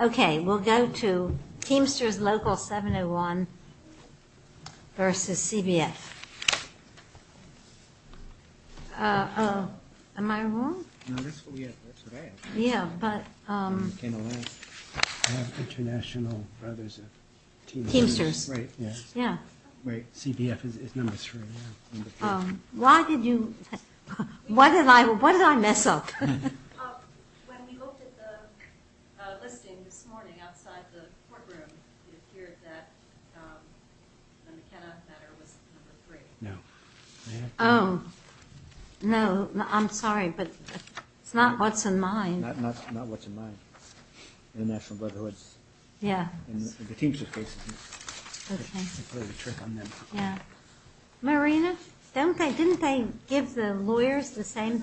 Okay, we'll go to Teamsters Local 701 versus CBF. Oh, am I wrong? No, that's what we have, that's what I have. Yeah, but... I mean, it came along. I have international brothers of Teamsters. Teamsters. Right, yeah. Yeah. Right, CBF is number three. Why did you... What did I mess up? When we looked at the listing this morning outside the courtroom, it appeared that the McKenna matter was number three. No. Oh. No, I'm sorry, but it's not what's in mine. Not what's in mine. The National Brotherhood's. Yeah. And the Teamsters case is number three. Okay. I played a trick on them. Yeah. Marina, didn't they give the lawyers the same...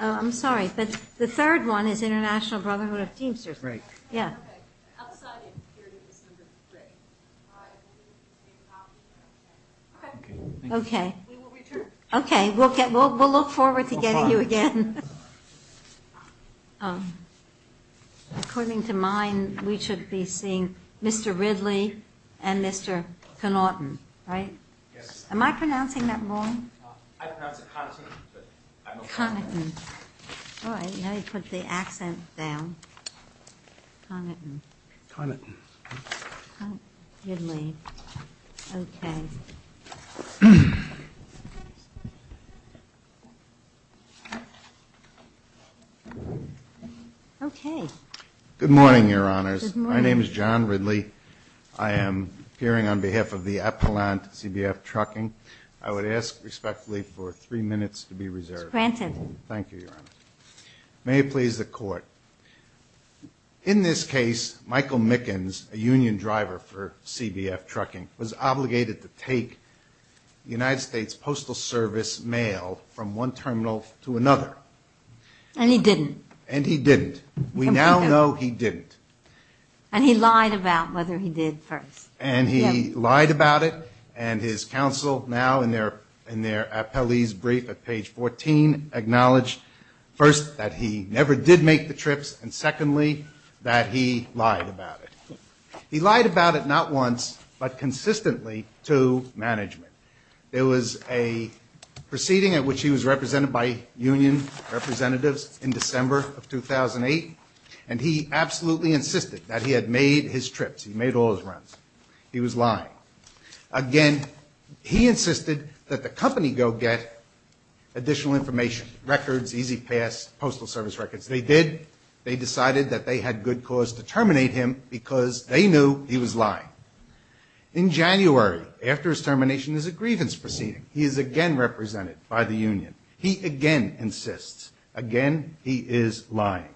Oh, I'm sorry, but the third one is International Brotherhood of Teamsters. Right. Yeah. Okay. Outside it appeared it was number three. Right. Okay. Okay. We will return. Okay, we'll look forward to getting you again. According to mine, we should be seeing Mr. Ridley and Mr. Connaughton, right? Yes. Am I pronouncing that wrong? I pronounce it Connaughton, but I'm okay. Connaughton. All right, now you put the accent down. Connaughton. Connaughton. Connaughton. Ridley. Okay. Okay. Good morning, Your Honors. Good morning. My name is John Ridley. I am appearing on behalf of the Appellant CBF Trucking. I would ask respectfully for three minutes to be reserved. Granted. Thank you, Your Honor. May it please the Court. In this case, Michael Mickens, a union driver for CBF Trucking, was obligated to take United States Postal Service mail from one terminal to another. And he didn't. And he didn't. We now know he didn't. And he lied about whether he did first. And he lied about it. And his counsel, now in their appellee's brief at page 14, acknowledged, first, that he never did make the trips, and secondly, that he lied about it. He lied about it not once, but consistently to management. There was a proceeding at which he was represented by union representatives in December of 2008, and he absolutely insisted that he had made his trips. He made all his runs. He was lying. Again, he insisted that the company go get additional information, records, easy pass, postal service records. They did. They decided that they had good cause to terminate him because they knew he was lying. In January, after his termination, there's a grievance proceeding. He is again represented by the union. He again insists. Again, he is lying.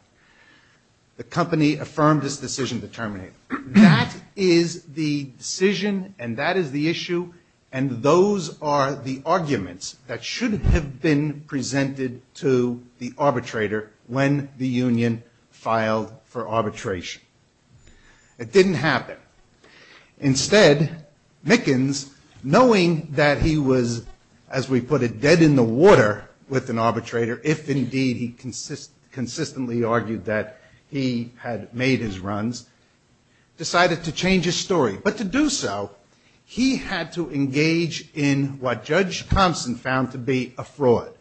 The company affirmed its decision to terminate him. That is the decision and that is the issue, and those are the arguments that should have been presented to the arbitrator when the union filed for arbitration. It didn't happen. Instead, Mickens, knowing that he was, as we put it, dead in the water with an arbitrator, if indeed he consistently argued that he had made his runs, decided to change his story. But to do so, he had to engage in what Judge Thompson found to be a fraud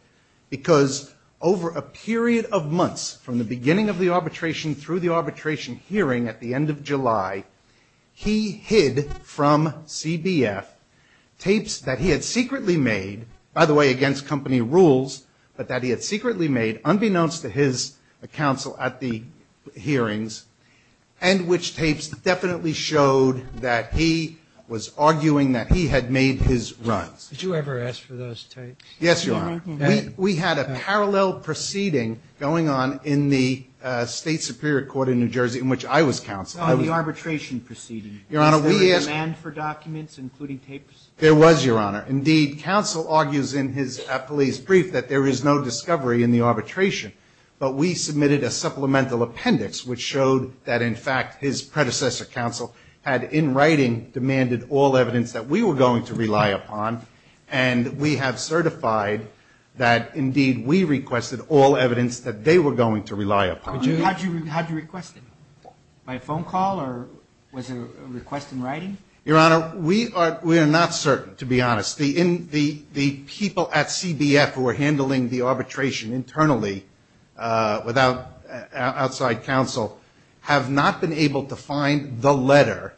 because over a period of months from the beginning of the arbitration through the arbitration hearing at the end of July, he hid from CBF tapes that he had secretly made, by the way, against company rules, but that he had secretly made, unbeknownst to his counsel at the hearings, and which tapes definitely showed that he was arguing that he had made his runs. Did you ever ask for those tapes? Yes, Your Honor. We had a parallel proceeding going on in the State Superior Court in New Jersey in which I was counsel. Oh, the arbitration proceeding. There was, Your Honor. Indeed, counsel argues in his police brief that there is no discovery in the arbitration, but we submitted a supplemental appendix which showed that, in fact, his predecessor counsel had, in writing, demanded all evidence that we were going to rely upon, and we have certified that, indeed, we requested all evidence that they were going to rely upon. How did you request it? By phone call or was it a request in writing? Your Honor, we are not certain, to be honest. The people at CBF who were handling the arbitration internally without outside counsel have not been able to find the letter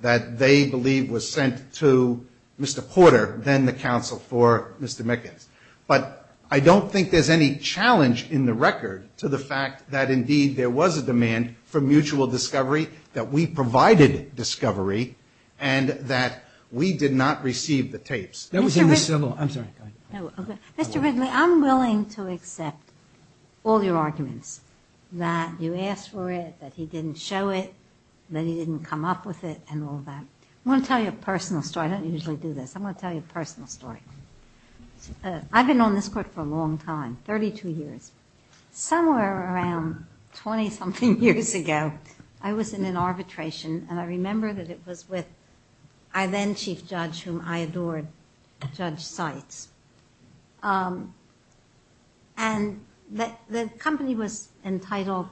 that they believe was sent to Mr. Porter, then the counsel for Mr. Mickens. But I don't think there's any challenge in the record to the fact that, indeed, there was a demand for mutual discovery, that we provided discovery, and that we did not receive the tapes. Mr. Ridley, I'm willing to accept all your arguments, that you asked for it, that he didn't show it, that he didn't come up with it and all that. I want to tell you a personal story. I don't usually do this. I'm going to tell you a personal story. I've been on this Court for a long time, 32 years. Somewhere around 20-something years ago, I was in an arbitration, and I remember that it was with our then Chief Judge, whom I adored, Judge Seitz. And the company was entitled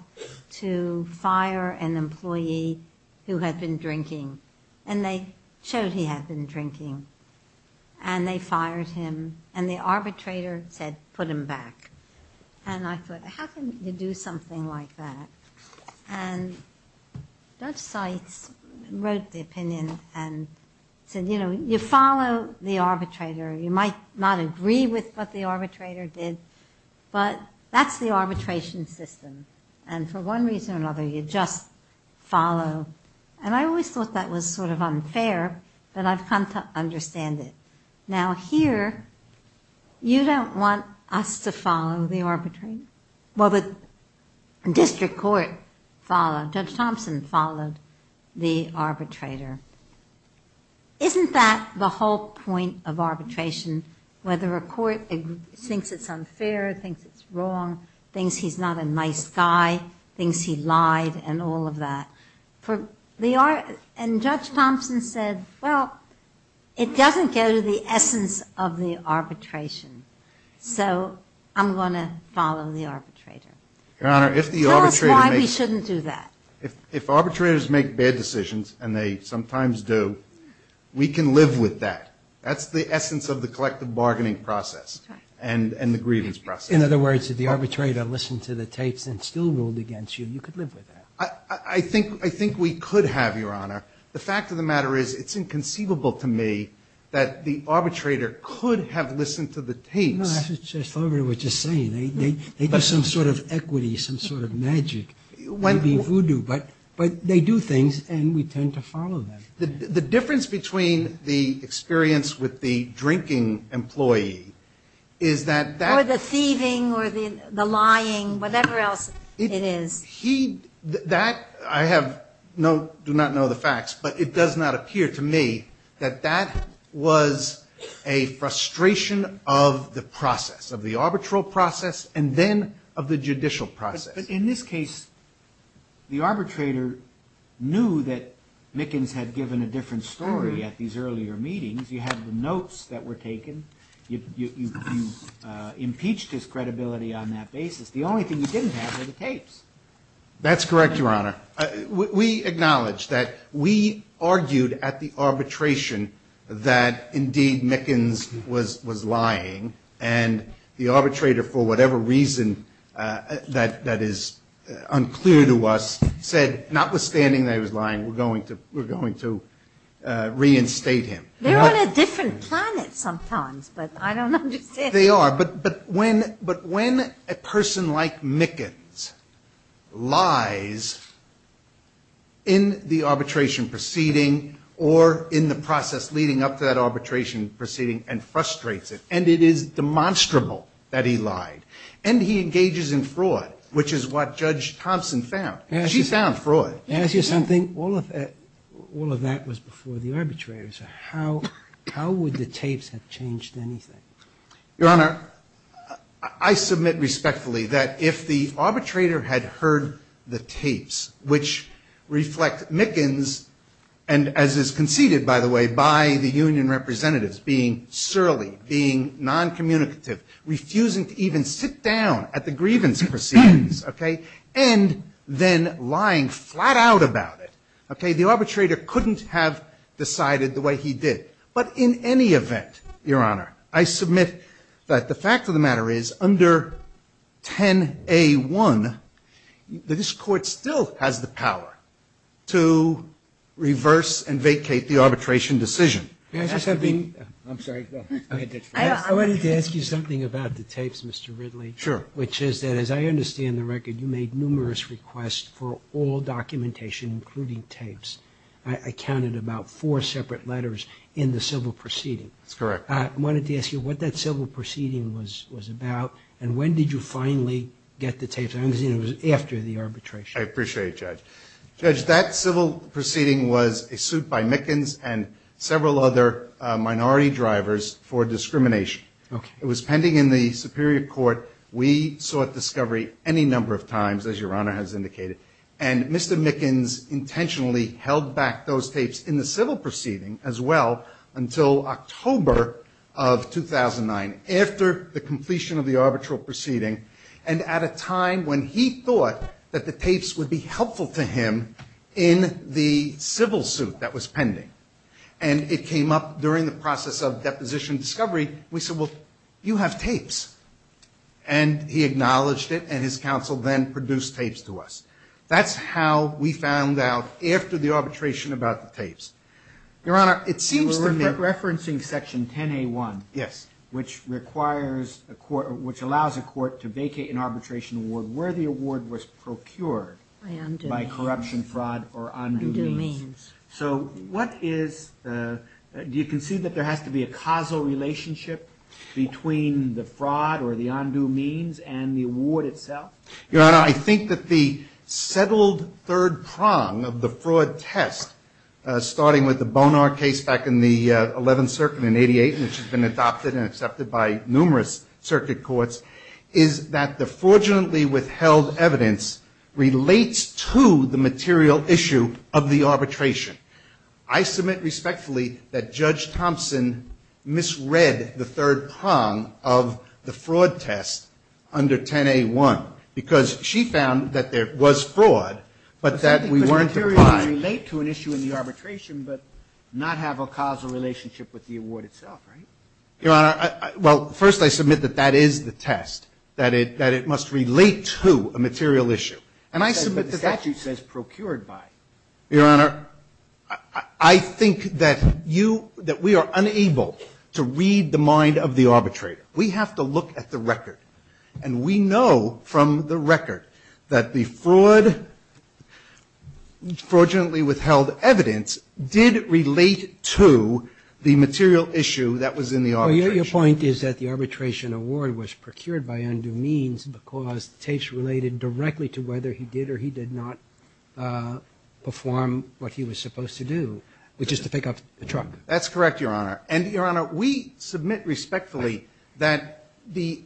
to fire an employee who had been drinking, and they showed he had been drinking, and they fired him, and the arbitrator said, put him back. And I thought, how can you do something like that? And Judge Seitz wrote the opinion and said, you know, you follow the arbitrator. You might not agree with what the arbitrator did, but that's the arbitration system. And for one reason or another, you just follow. And I always thought that was sort of unfair, but I've come to understand it. Now, here, you don't want us to follow the arbitrator. Well, the district court followed. Judge Thompson followed the arbitrator. Isn't that the whole point of arbitration, whether a court thinks it's unfair, thinks it's wrong, thinks he's not a nice guy, thinks he lied, and all of that? And Judge Thompson said, well, it doesn't go to the essence of the arbitration, so I'm going to follow the arbitrator. Tell us why we shouldn't do that. If arbitrators make bad decisions, and they sometimes do, we can live with that. That's the essence of the collective bargaining process and the grievance process. In other words, if the arbitrator listened to the tapes and still ruled against you, you could live with that. I think we could have, Your Honor. The fact of the matter is it's inconceivable to me that the arbitrator could have listened to the tapes. No, I thought everybody was just saying they do some sort of equity, some sort of magic, maybe voodoo. But they do things, and we tend to follow them. The difference between the experience with the drinking employee is that that – Or the thieving or the lying, whatever else it is. That, I do not know the facts, but it does not appear to me that that was a frustration of the process, of the arbitral process, and then of the judicial process. But in this case, the arbitrator knew that Mickens had given a different story at these earlier meetings. You had the notes that were taken. You impeached his credibility on that basis. The only thing you didn't have were the tapes. That's correct, Your Honor. We acknowledge that we argued at the arbitration that indeed Mickens was lying, and the arbitrator, for whatever reason that is unclear to us, said notwithstanding that he was lying, we're going to reinstate him. They're on a different planet sometimes, but I don't understand. They are. But when a person like Mickens lies in the arbitration proceeding or in the process leading up to that arbitration proceeding and frustrates it, and it is demonstrable that he lied, and he engages in fraud, which is what Judge Thompson found. She found fraud. May I ask you something? All of that was before the arbitrators. How would the tapes have changed anything? Your Honor, I submit respectfully that if the arbitrator had heard the tapes, which reflect Mickens, and as is conceded, by the way, by the union representatives, being surly, being noncommunicative, refusing to even sit down at the grievance proceedings, okay, and then lying flat out about it, okay, the arbitrator couldn't have decided the way he did. But in any event, Your Honor, I submit that the fact of the matter is under 10A1, this Court still has the power to reverse and vacate the arbitration decision. May I ask you something? I'm sorry. I wanted to ask you something about the tapes, Mr. Ridley. Sure. Which is that, as I understand the record, you made numerous requests for all documentation, including tapes. I counted about four separate letters in the civil proceeding. That's correct. I wanted to ask you what that civil proceeding was about, and when did you finally get the tapes? I understand it was after the arbitration. I appreciate it, Judge. Judge, that civil proceeding was a suit by Mickens and several other minority drivers for discrimination. It was pending in the Superior Court. We sought discovery any number of times, as Your Honor has indicated, and Mr. Mickens intentionally held back those tapes in the civil proceeding as well until October of 2009, after the completion of the arbitral proceeding and at a time when he thought that the tapes would be helpful to him in the civil suit that was pending. And it came up during the process of deposition discovery. We said, well, you have tapes. And he acknowledged it, and his counsel then produced tapes to us. That's how we found out, after the arbitration, about the tapes. Your Honor, it seems to me that... We're referencing Section 10A1. Yes. Which requires a court or which allows a court to vacate an arbitration award where the award was procured by corruption, fraud, or undue means. Undue means. So what is the... Do you concede that there has to be a causal relationship between the fraud or the undue means and the award itself? Your Honor, I think that the settled third prong of the fraud test, starting with the Bonar case back in the 11th Circuit in 88, which has been adopted and accepted by numerous circuit courts, is that the fraudulently withheld evidence relates to the material issue of the arbitration. I submit respectfully that Judge Thompson misread the third prong of the fraud test under 10A1. Because she found that there was fraud, but that we weren't applying... I think the materials relate to an issue in the arbitration but not have a causal relationship with the award itself, right? Your Honor, well, first I submit that that is the test, that it must relate to a material issue. And I submit that... But the statute says procured by. Your Honor, I think that you, that we are unable to read the mind of the arbitrator. We have to look at the record. And we know from the record that the fraud, fraudulently withheld evidence, did relate to the material issue that was in the arbitration. Well, your point is that the arbitration award was procured by undue means because the tapes related directly to whether he did or he did not perform what he was supposed to do, which is to pick up the truck. That's correct, Your Honor. And, Your Honor, we submit respectfully that the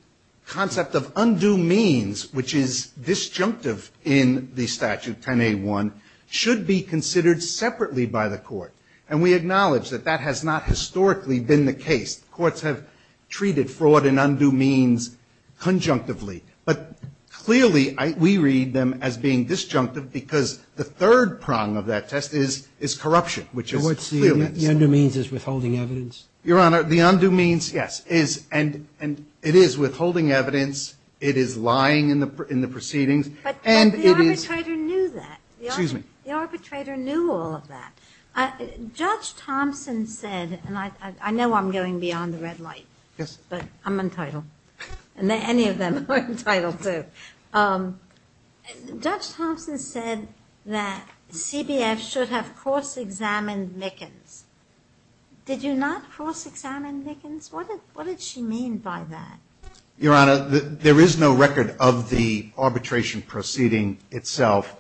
concept of undue means, which is disjunctive in the statute 10A1, should be considered separately by the court. And we acknowledge that that has not historically been the case. Courts have treated fraud and undue means conjunctively. But clearly, we read them as being disjunctive because the third prong of that test is corruption, which is clearly... The undue means is withholding evidence. Your Honor, the undue means, yes, is and it is withholding evidence. It is lying in the proceedings. But the arbitrator knew that. Excuse me. The arbitrator knew all of that. Judge Thompson said, and I know I'm going beyond the red light. Yes. But I'm entitled. And any of them are entitled to. Judge Thompson said that CBF should have cross-examined Mickens. Did you not cross-examine Mickens? What did she mean by that? Your Honor, there is no record of the arbitration proceeding itself.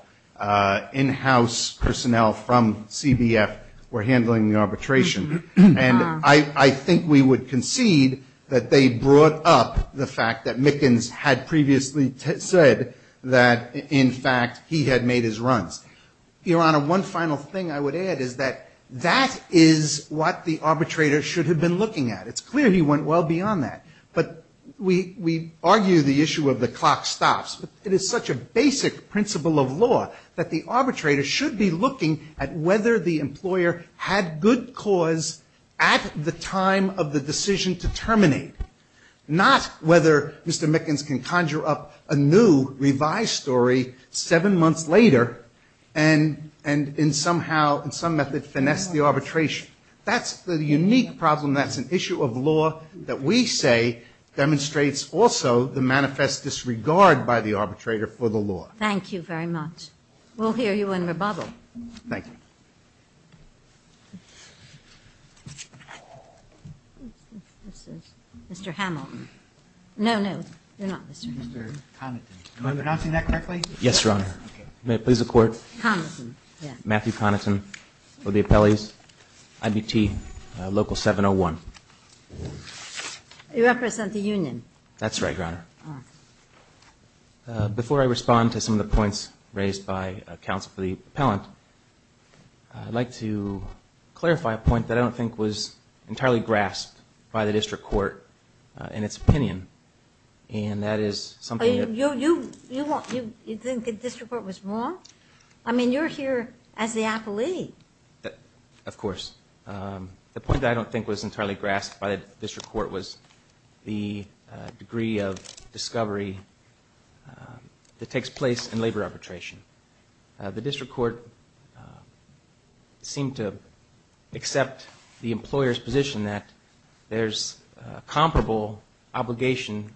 In-house personnel from CBF were handling the arbitration. And I think we would concede that they brought up the fact that Mickens had previously said that, in fact, he had made his runs. Your Honor, one final thing I would add is that that is what the arbitrator should have been looking at. It's clear he went well beyond that. But we argue the issue of the clock stops. It is such a basic principle of law that the arbitrator should be looking at whether the employer had good cause at the time of the decision to terminate, not whether Mr. Mickens can conjure up a new revised story seven months later and somehow, in some method, finesse the arbitration. That's the unique problem. That's an issue of law that we say demonstrates also the manifest disregard by the arbitrator for the law. Thank you very much. We'll hear you in rebuttal. Thank you. Mr. Hamilton. No, no. You're not Mr. Hamilton. Mr. Connaughton. Am I pronouncing that correctly? Yes, Your Honor. Okay. May it please the Court? Connaughton, yeah. Matthew Connaughton for the appellees. IBT Local 701. You represent the union. That's right, Your Honor. Before I respond to some of the points raised by counsel for the appellant, I'd like to clarify a point that I don't think was entirely grasped by the district court in its opinion, and that is something that You think the district court was wrong? I mean, you're here as the appellee. Of course. The point that I don't think was entirely grasped by the district court was the degree of discovery that takes place in labor arbitration. The district court seemed to accept the employer's position that there's a comparable obligation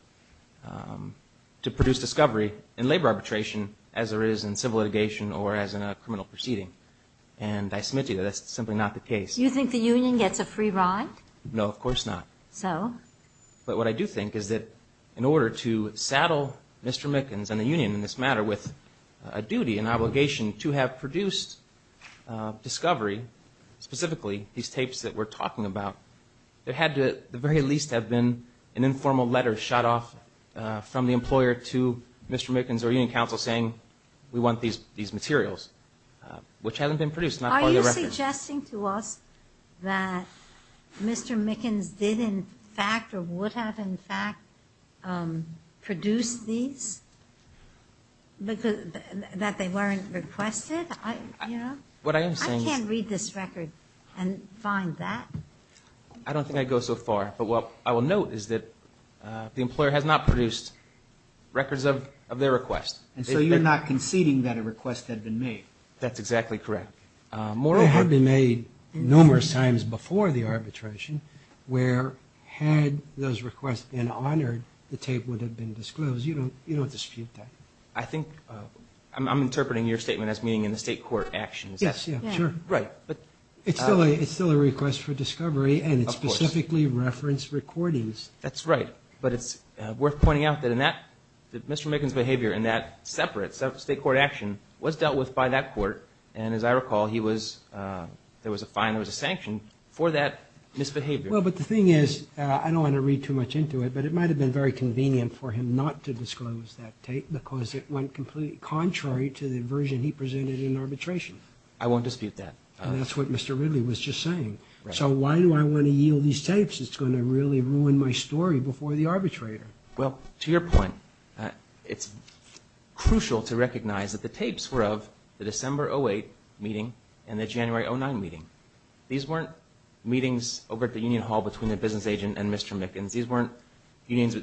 to produce discovery in labor arbitration as there is in civil litigation or as in a criminal proceeding. And I submit to you that that's simply not the case. Do you think the union gets a free ride? No, of course not. So? But what I do think is that in order to saddle Mr. Mickens and the union in this matter with a duty, an obligation to have produced discovery, specifically these tapes that we're talking about, there had to at the very least have been an informal letter shot off from the employer to Mr. Mickens or union counsel saying we want these materials, which haven't been produced. Are you suggesting to us that Mr. Mickens did in fact or would have in fact produced these, that they weren't requested? I can't read this record and find that. I don't think I'd go so far. But what I will note is that the employer has not produced records of their request. And so you're not conceding that a request had been made? That's exactly correct. They had been made numerous times before the arbitration where had those requests been honored, the tape would have been disclosed. You don't dispute that. I think I'm interpreting your statement as meaning in the state court actions. Yes, sure. Right. It's still a request for discovery and it's specifically referenced recordings. That's right. But it's worth pointing out that in that, that Mr. Mickens' behavior in that separate state court action was dealt with by that court. And as I recall, he was, there was a fine, there was a sanction for that misbehavior. Well, but the thing is, I don't want to read too much into it, but it might have been very convenient for him not to disclose that tape because it went completely contrary to the version he presented in arbitration. I won't dispute that. That's what Mr. Ridley was just saying. So why do I want to yield these tapes? It's going to really ruin my story before the arbitrator. Well, to your point, it's crucial to recognize that the tapes were of the December 08 meeting and the January 09 meeting. These weren't meetings over at the union hall between the business agent and Mr. Mickens. These weren't unions,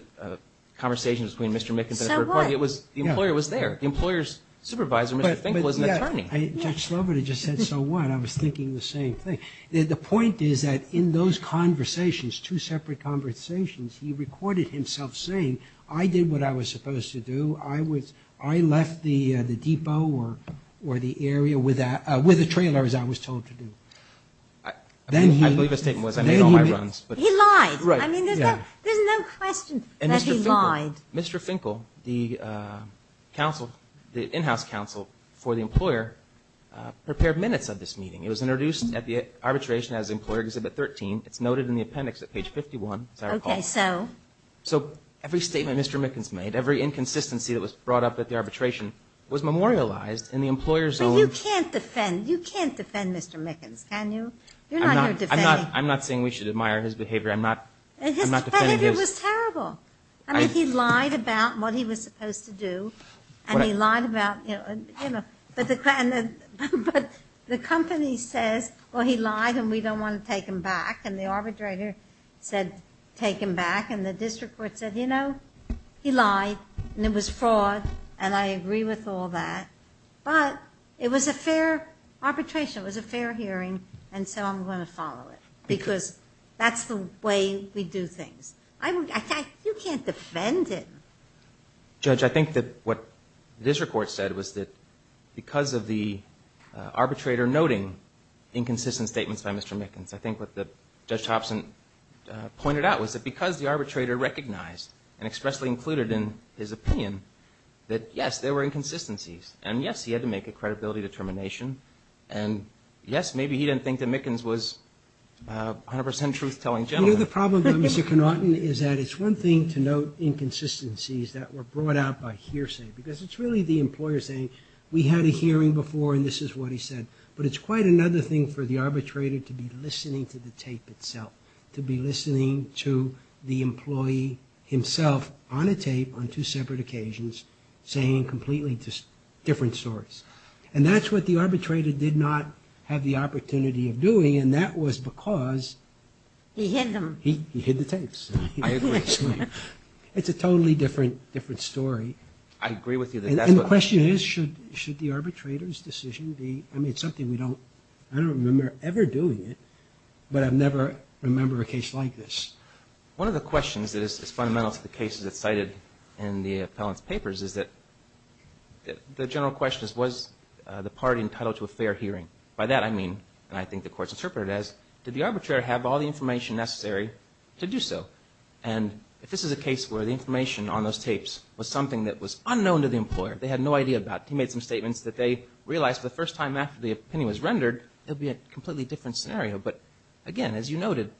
conversations between Mr. Mickens and the third party. So what? The employer was there. The employer's supervisor, Mr. Finkel, was an attorney. Judge Sloboda just said, so what? I was thinking the same thing. The point is that in those conversations, two separate conversations, he recorded himself saying, I did what I was supposed to do. I left the depot or the area with a trailer, as I was told to do. I believe his statement was, I made all my runs. He lied. There's no question that he lied. Mr. Finkel, the in-house counsel for the employer, prepared minutes of this meeting. It was introduced at the arbitration as Employer Exhibit 13. It's noted in the appendix at page 51, as I recall. Okay, so? So every statement Mr. Mickens made, every inconsistency that was brought up at the arbitration, was memorialized in the employer's own- But you can't defend Mr. Mickens, can you? You're not here defending- I'm not saying we should admire his behavior. I'm not defending his- But his behavior was terrible. I mean, he lied about what he was supposed to do, and he lied about, you know, but the company says, well, he lied and we don't want to take him back, and the arbitrator said, take him back, and the district court said, you know, he lied, and it was fraud, and I agree with all that, but it was a fair arbitration. It was a fair hearing, and so I'm going to follow it because that's the way we do things. You can't defend him. Judge, I think that what the district court said was that because of the arbitrator were noting inconsistent statements by Mr. Mickens, I think what Judge Thompson pointed out was that because the arbitrator recognized and expressly included in his opinion that, yes, there were inconsistencies, and, yes, he had to make a credibility determination, and, yes, maybe he didn't think that Mickens was 100% truth-telling gentleman. You know, the problem with Mr. Connaughton is that it's one thing to note inconsistencies that were brought out by hearsay because it's really the employer saying, we had a hearing before, and this is what he said, but it's quite another thing for the arbitrator to be listening to the tape itself, to be listening to the employee himself on a tape on two separate occasions saying completely different stories, and that's what the arbitrator did not have the opportunity of doing, and that was because he hid the tapes. It's a totally different story. I agree with you that that's what... And the question is, should the arbitrator's decision be, I mean, it's something we don't, I don't remember ever doing it, but I never remember a case like this. One of the questions that is fundamental to the cases that's cited in the appellant's papers is that the general question is, was the party entitled to a fair hearing? By that I mean, and I think the Court's interpreted it as, did the arbitrator have all the information necessary to do so? And if this is a case where the information on those tapes was something that was unknown to the employer, they had no idea about, he made some statements that they realized the first time after the opinion was rendered, it would be a completely different scenario. But, again, as you noted,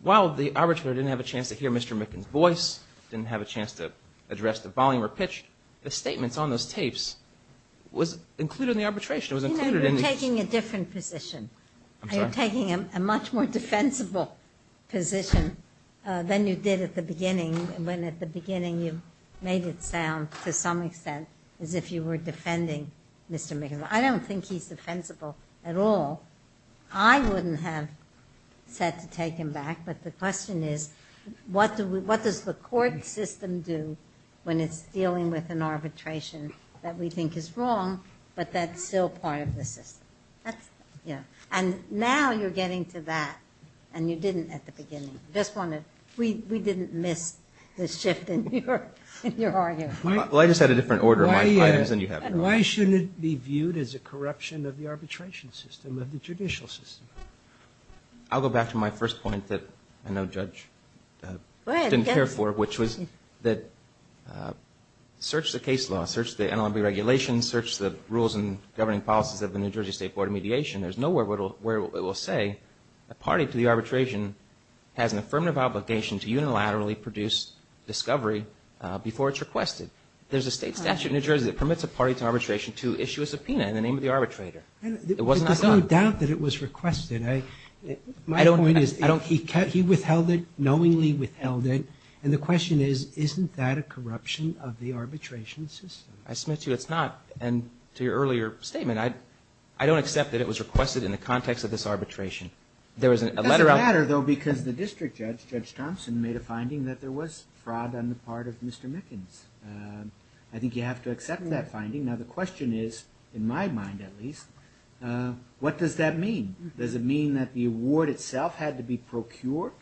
while the arbitrator didn't have a chance to hear Mr. Micken's voice, didn't have a chance to address the volume or pitch, the statements on those tapes was included in the arbitration. It was included in the... You know, you're taking a different position. I'm sorry? You're taking a much more defensible position than you did at the beginning, when at the beginning you made it sound, to some extent, as if you were defending Mr. Micken. I don't think he's defensible at all. I wouldn't have said to take him back, but the question is, what does the court system do when it's dealing with an arbitration that we think is wrong, but that's still part of the system? And now you're getting to that, and you didn't at the beginning. We didn't miss the shift in your argument. Well, I just had a different order of my items than you have. Why shouldn't it be viewed as a corruption of the arbitration system, of the judicial system? I'll go back to my first point that I know Judge didn't care for, which was that search the case law, search the NLMB regulations, search the rules and governing policies of the New Jersey State Board of Mediation. There's nowhere where it will say a party to the arbitration has an affirmative obligation to unilaterally produce discovery before it's requested. There's a state statute in New Jersey that permits a party to arbitration to issue a subpoena in the name of the arbitrator. There's no doubt that it was requested. My point is, he withheld it, knowingly withheld it, and the question is, isn't that a corruption of the arbitration system? I submit to you it's not, and to your earlier statement, I don't accept that it was requested in the context of this arbitration. It doesn't matter, though, because the district judge, Judge Thompson, made a finding that there was fraud on the part of Mr. Mickens. I think you have to accept that finding. Now, the question is, in my mind at least, what does that mean? Does it mean that the award itself had to be procured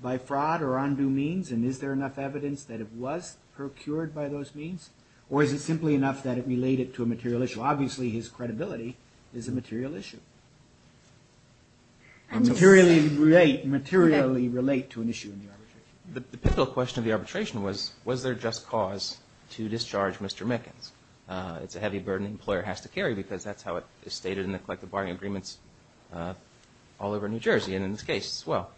by fraud or undue means, and is there enough evidence that it was procured by those means? Or is it simply enough that it related to a material issue? Obviously, his credibility is a material issue. Materially relate to an issue in the arbitration. The pivotal question of the arbitration was, was there just cause to discharge Mr. Mickens? It's a heavy burden the employer has to carry because that's how it is stated in the collective bargaining agreements all over New Jersey and in this case as well.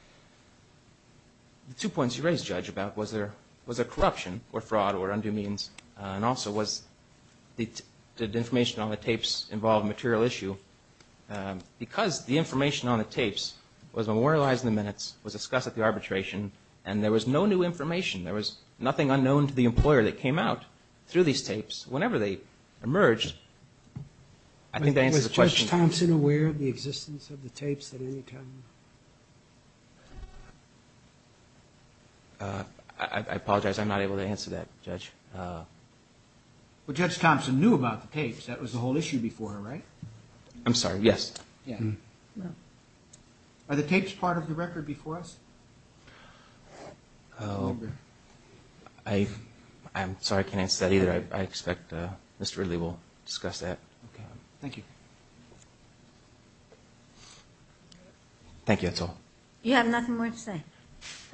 The two points you raised, Judge, about was there corruption or fraud or undue means, and also did the information on the tapes involve a material issue? Because the information on the tapes was memorialized in the minutes, was discussed at the arbitration, and there was no new information. There was nothing unknown to the employer that came out through these tapes. Whenever they emerged, I think that answers the question. Is Judge Thompson aware of the existence of the tapes at any time? I apologize. I'm not able to answer that, Judge. Well, Judge Thompson knew about the tapes. That was the whole issue before, right? I'm sorry, yes. Are the tapes part of the record before us? I'm sorry, I can't answer that either. I expect Mr. Ridley will discuss that. Okay, thank you. Thank you, that's all. You have nothing more to say.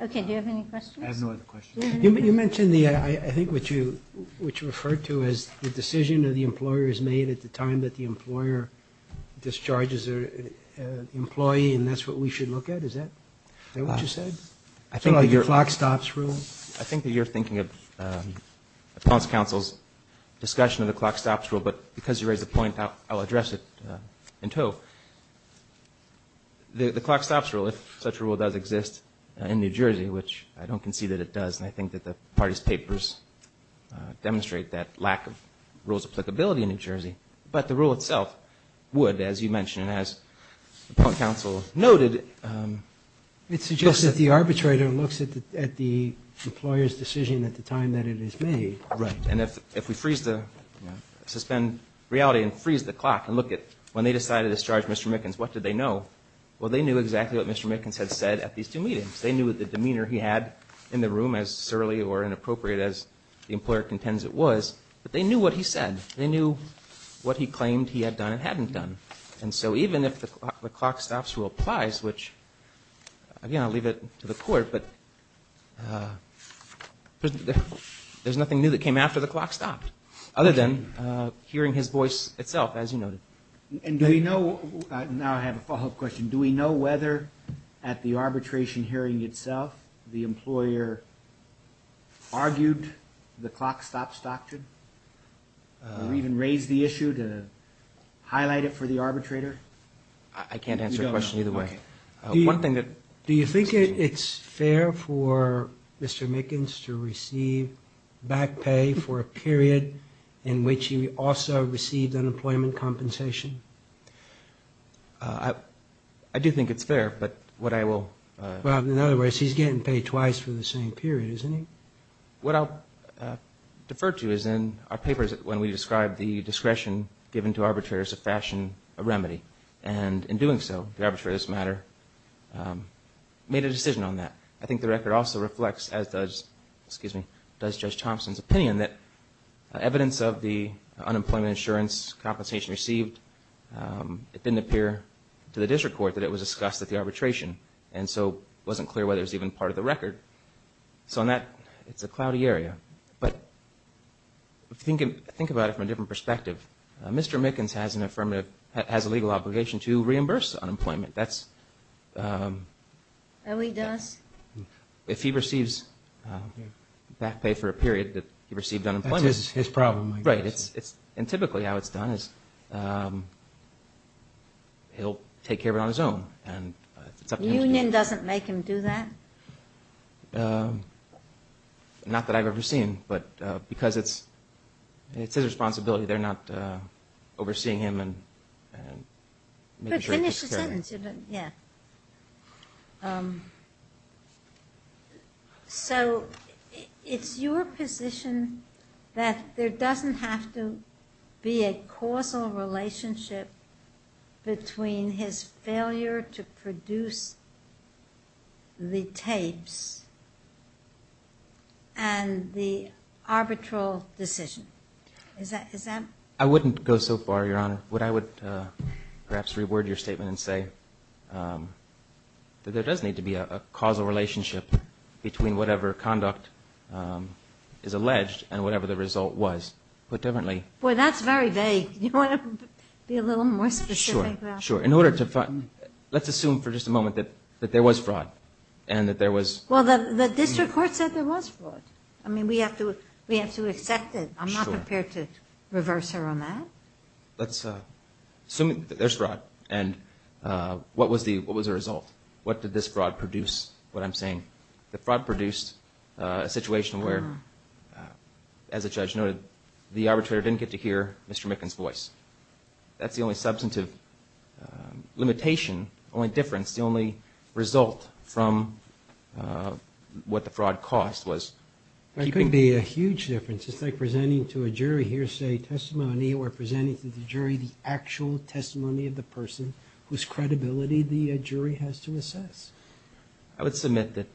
Okay, do you have any questions? I have no other questions. You mentioned, I think, what you referred to as the decision that the employer has made at the time that the employer discharges an employee, and that's what we should look at. Is that what you said? I think that you're thinking of the council's discussion of the clock stops rule, but because you raised the point, I'll address it in tow. The clock stops rule, if such a rule does exist in New Jersey, which I don't concede that it does, and I think that the party's papers demonstrate that lack of rules applicability in New Jersey, but the rule itself would, as you mentioned and as the point counsel noted. It suggests that the arbitrator looks at the employer's decision at the time that it is made. Right, and if we freeze the, you know, suspend reality and freeze the clock and look at when they decided to discharge Mr. Mickens, what did they know? Well, they knew exactly what Mr. Mickens had said at these two meetings. They knew the demeanor he had in the room as surly or inappropriate as the employer contends it was, but they knew what he said. They knew what he claimed he had done and hadn't done. And so even if the clock stops rule applies, which, again, I'll leave it to the court, but there's nothing new that came after the clock stopped other than hearing his voice itself, as you noted. And do we know, now I have a follow-up question, do we know whether at the arbitration hearing itself the employer argued the clock stops doctrine or even raised the issue to highlight it for the arbitrator? I can't answer the question either way. Do you think it's fair for Mr. Mickens to receive back pay for a period in which he also received unemployment compensation? I do think it's fair, but what I will... Well, in other words, he's getting paid twice for the same period, isn't he? What I'll defer to is in our papers when we describe the discretion given to arbitrators of fashion, a remedy, and in doing so, the arbitrators of this matter made a decision on that. I think the record also reflects, as does Judge Thompson's opinion, that evidence of the unemployment insurance compensation received, it didn't appear to the district court that it was discussed at the arbitration and so it wasn't clear whether it was even part of the record. So on that, it's a cloudy area. But think about it from a different perspective. Mr. Mickens has a legal obligation to reimburse unemployment. That's... Oh, he does? If he receives back pay for a period that he received unemployment. That's his problem, I guess. Right, and typically how it's done is he'll take care of it on his own. The union doesn't make him do that? Not that I've ever seen, but because it's his responsibility. They're not overseeing him and making sure he's secure. Finish the sentence. So it's your position that there doesn't have to be a causal relationship between his failure to produce the tapes and the arbitral decision. I wouldn't go so far, Your Honor. What I would perhaps reword your statement and say that there does need to be a causal relationship between whatever conduct is alleged and whatever the result was. Put differently... Boy, that's very vague. Do you want to be a little more specific? Sure, sure. In order to find... Let's assume for just a moment that there was fraud and that there was... Well, the district court said there was fraud. I mean, we have to accept it. I'm not prepared to reverse her on that. Let's assume that there's fraud, and what was the result? What did this fraud produce, what I'm saying? The fraud produced a situation where, as the judge noted, the arbitrator didn't get to hear Mr. Mickens' voice. That's the only substantive limitation, only difference, the only result from what the fraud cost was. There couldn't be a huge difference. It's like presenting to a jury hearsay testimony or presenting to the jury the actual testimony of the person whose credibility the jury has to assess. I would submit that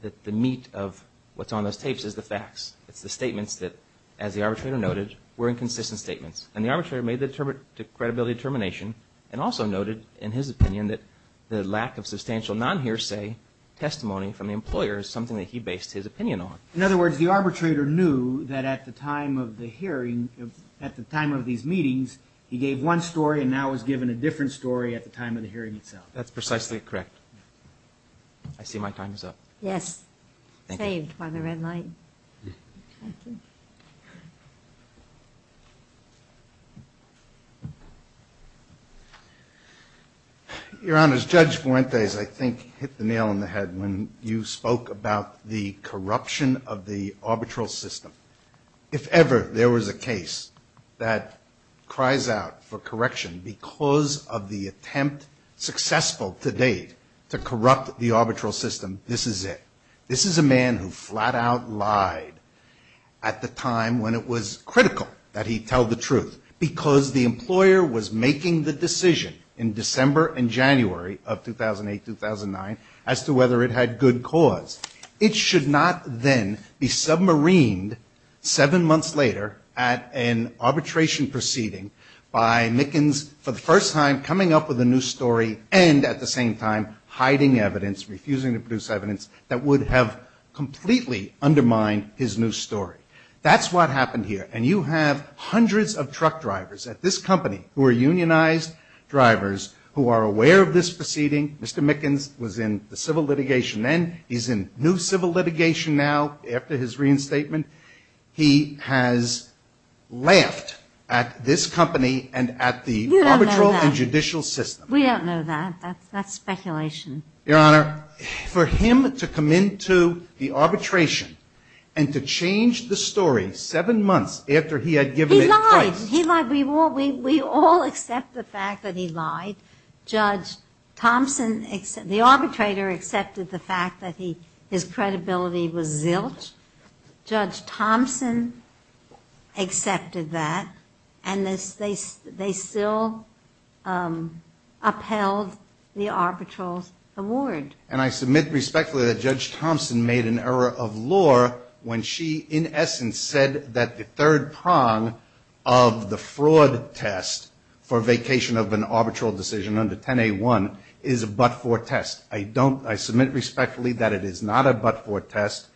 the meat of what's on those tapes is the facts. It's the statements that, as the arbitrator noted, were inconsistent statements. And the arbitrator made the credibility determination and also noted, in his opinion, that the lack of substantial non-hearsay testimony from the employer is something that he based his opinion on. In other words, the arbitrator knew that at the time of the hearing, at the time of these meetings, he gave one story and now was given a different story at the time of the hearing itself. That's precisely correct. I see my time is up. Yes. Thank you. Saved by the red light. Thank you. Your Honor, Judge Fuentes, I think, hit the nail on the head when you spoke about the corruption of the arbitral system. If ever there was a case that cries out for correction because of the attempt, successful to date, to corrupt the arbitral system, this is it. This is a man who flat out lied at the time when it was critical that he tell the truth because the employer was making the decision in December and January of 2008-2009 as to whether it had good cause. It should not then be submarined seven months later at an arbitration proceeding by Mickens for the first time coming up with a new story and, at the same time, hiding evidence, refusing to produce evidence that would have completely undermined his new story. That's what happened here. And you have hundreds of truck drivers at this company who are unionized drivers who are aware of this proceeding. Mr. Mickens was in the civil litigation then. He's in new civil litigation now after his reinstatement. He has laughed at this company and at the arbitral and judicial system. We don't know that. That's speculation. Your Honor, for him to come into the arbitration and to change the story seven months after he had given it twice. He lied. We all accept the fact that he lied. Judge Thompson, the arbitrator, accepted the fact that his credibility was zilch. Judge Thompson accepted that. And they still upheld the arbitral's award. And I submit respectfully that Judge Thompson made an error of law when she, in essence, said that the third prong of the fraud test for vacation of an arbitral decision under 10A1 is a but-for test. I submit respectfully that it is not a but-for test,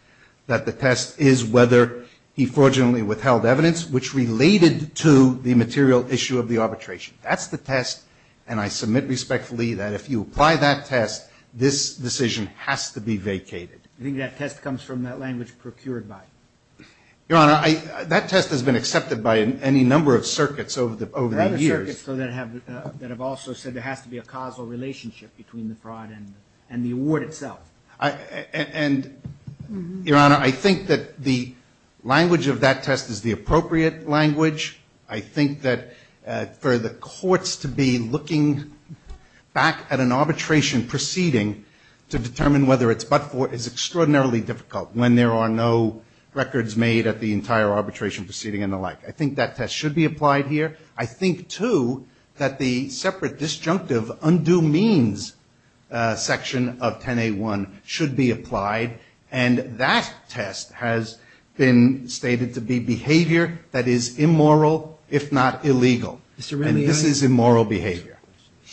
that the test is whether he fraudulently withheld evidence which related to the material issue of the arbitration. That's the test, and I submit respectfully that if you apply that test, this decision has to be vacated. I think that test comes from that language procured by you. Your Honor, that test has been accepted by any number of circuits over the years. There are other circuits that have also said there has to be a causal relationship between the fraud and the award itself. And, Your Honor, I think that the language of that test is the appropriate language. I think that for the courts to be looking back at an arbitration proceeding to determine whether it's but-for is extraordinarily difficult when there are no records made at the entire arbitration proceeding and the like. I think that test should be applied here. I think, too, that the separate disjunctive undue means section of 10A1 should be applied. And that test has been stated to be behavior that is immoral, if not illegal. And this is immoral behavior.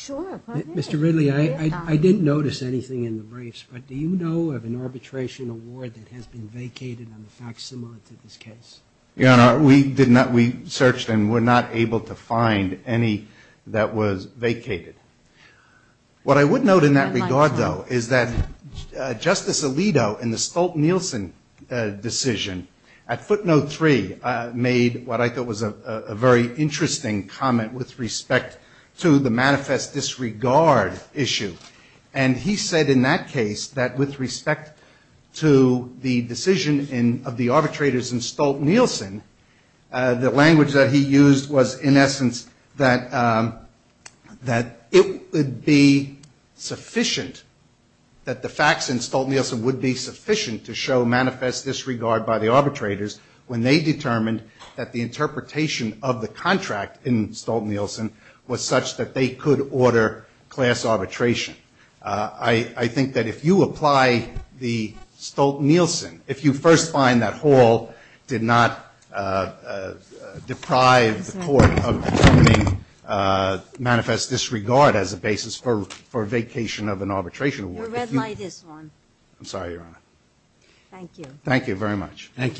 Mr. Ridley, I didn't notice anything in the briefs, but do you know of an arbitration award that has been vacated on the facts similar to this case? Your Honor, we did not. We searched and were not able to find any that was vacated. What I would note in that regard, though, is that Justice Alito in the Stolt-Nielsen decision at footnote three made what I thought was a very interesting comment with respect to the manifest disregard issue. And he said in that case that with respect to the decision of the arbitrators in Stolt-Nielsen, the language that he used was, in essence, that it would be sufficient, that the facts in Stolt-Nielsen would be sufficient to show manifest disregard by the arbitrators when they determined that the interpretation of the contract in Stolt-Nielsen was such that they could order class arbitration. I think that if you apply the Stolt-Nielsen, if you first find that Hall did not deprive the court of determining manifest disregard as a basis for a vacation of an arbitration award, if you. You read my this one. I'm sorry, Your Honor. Thank you. Thank you very much. Thank you.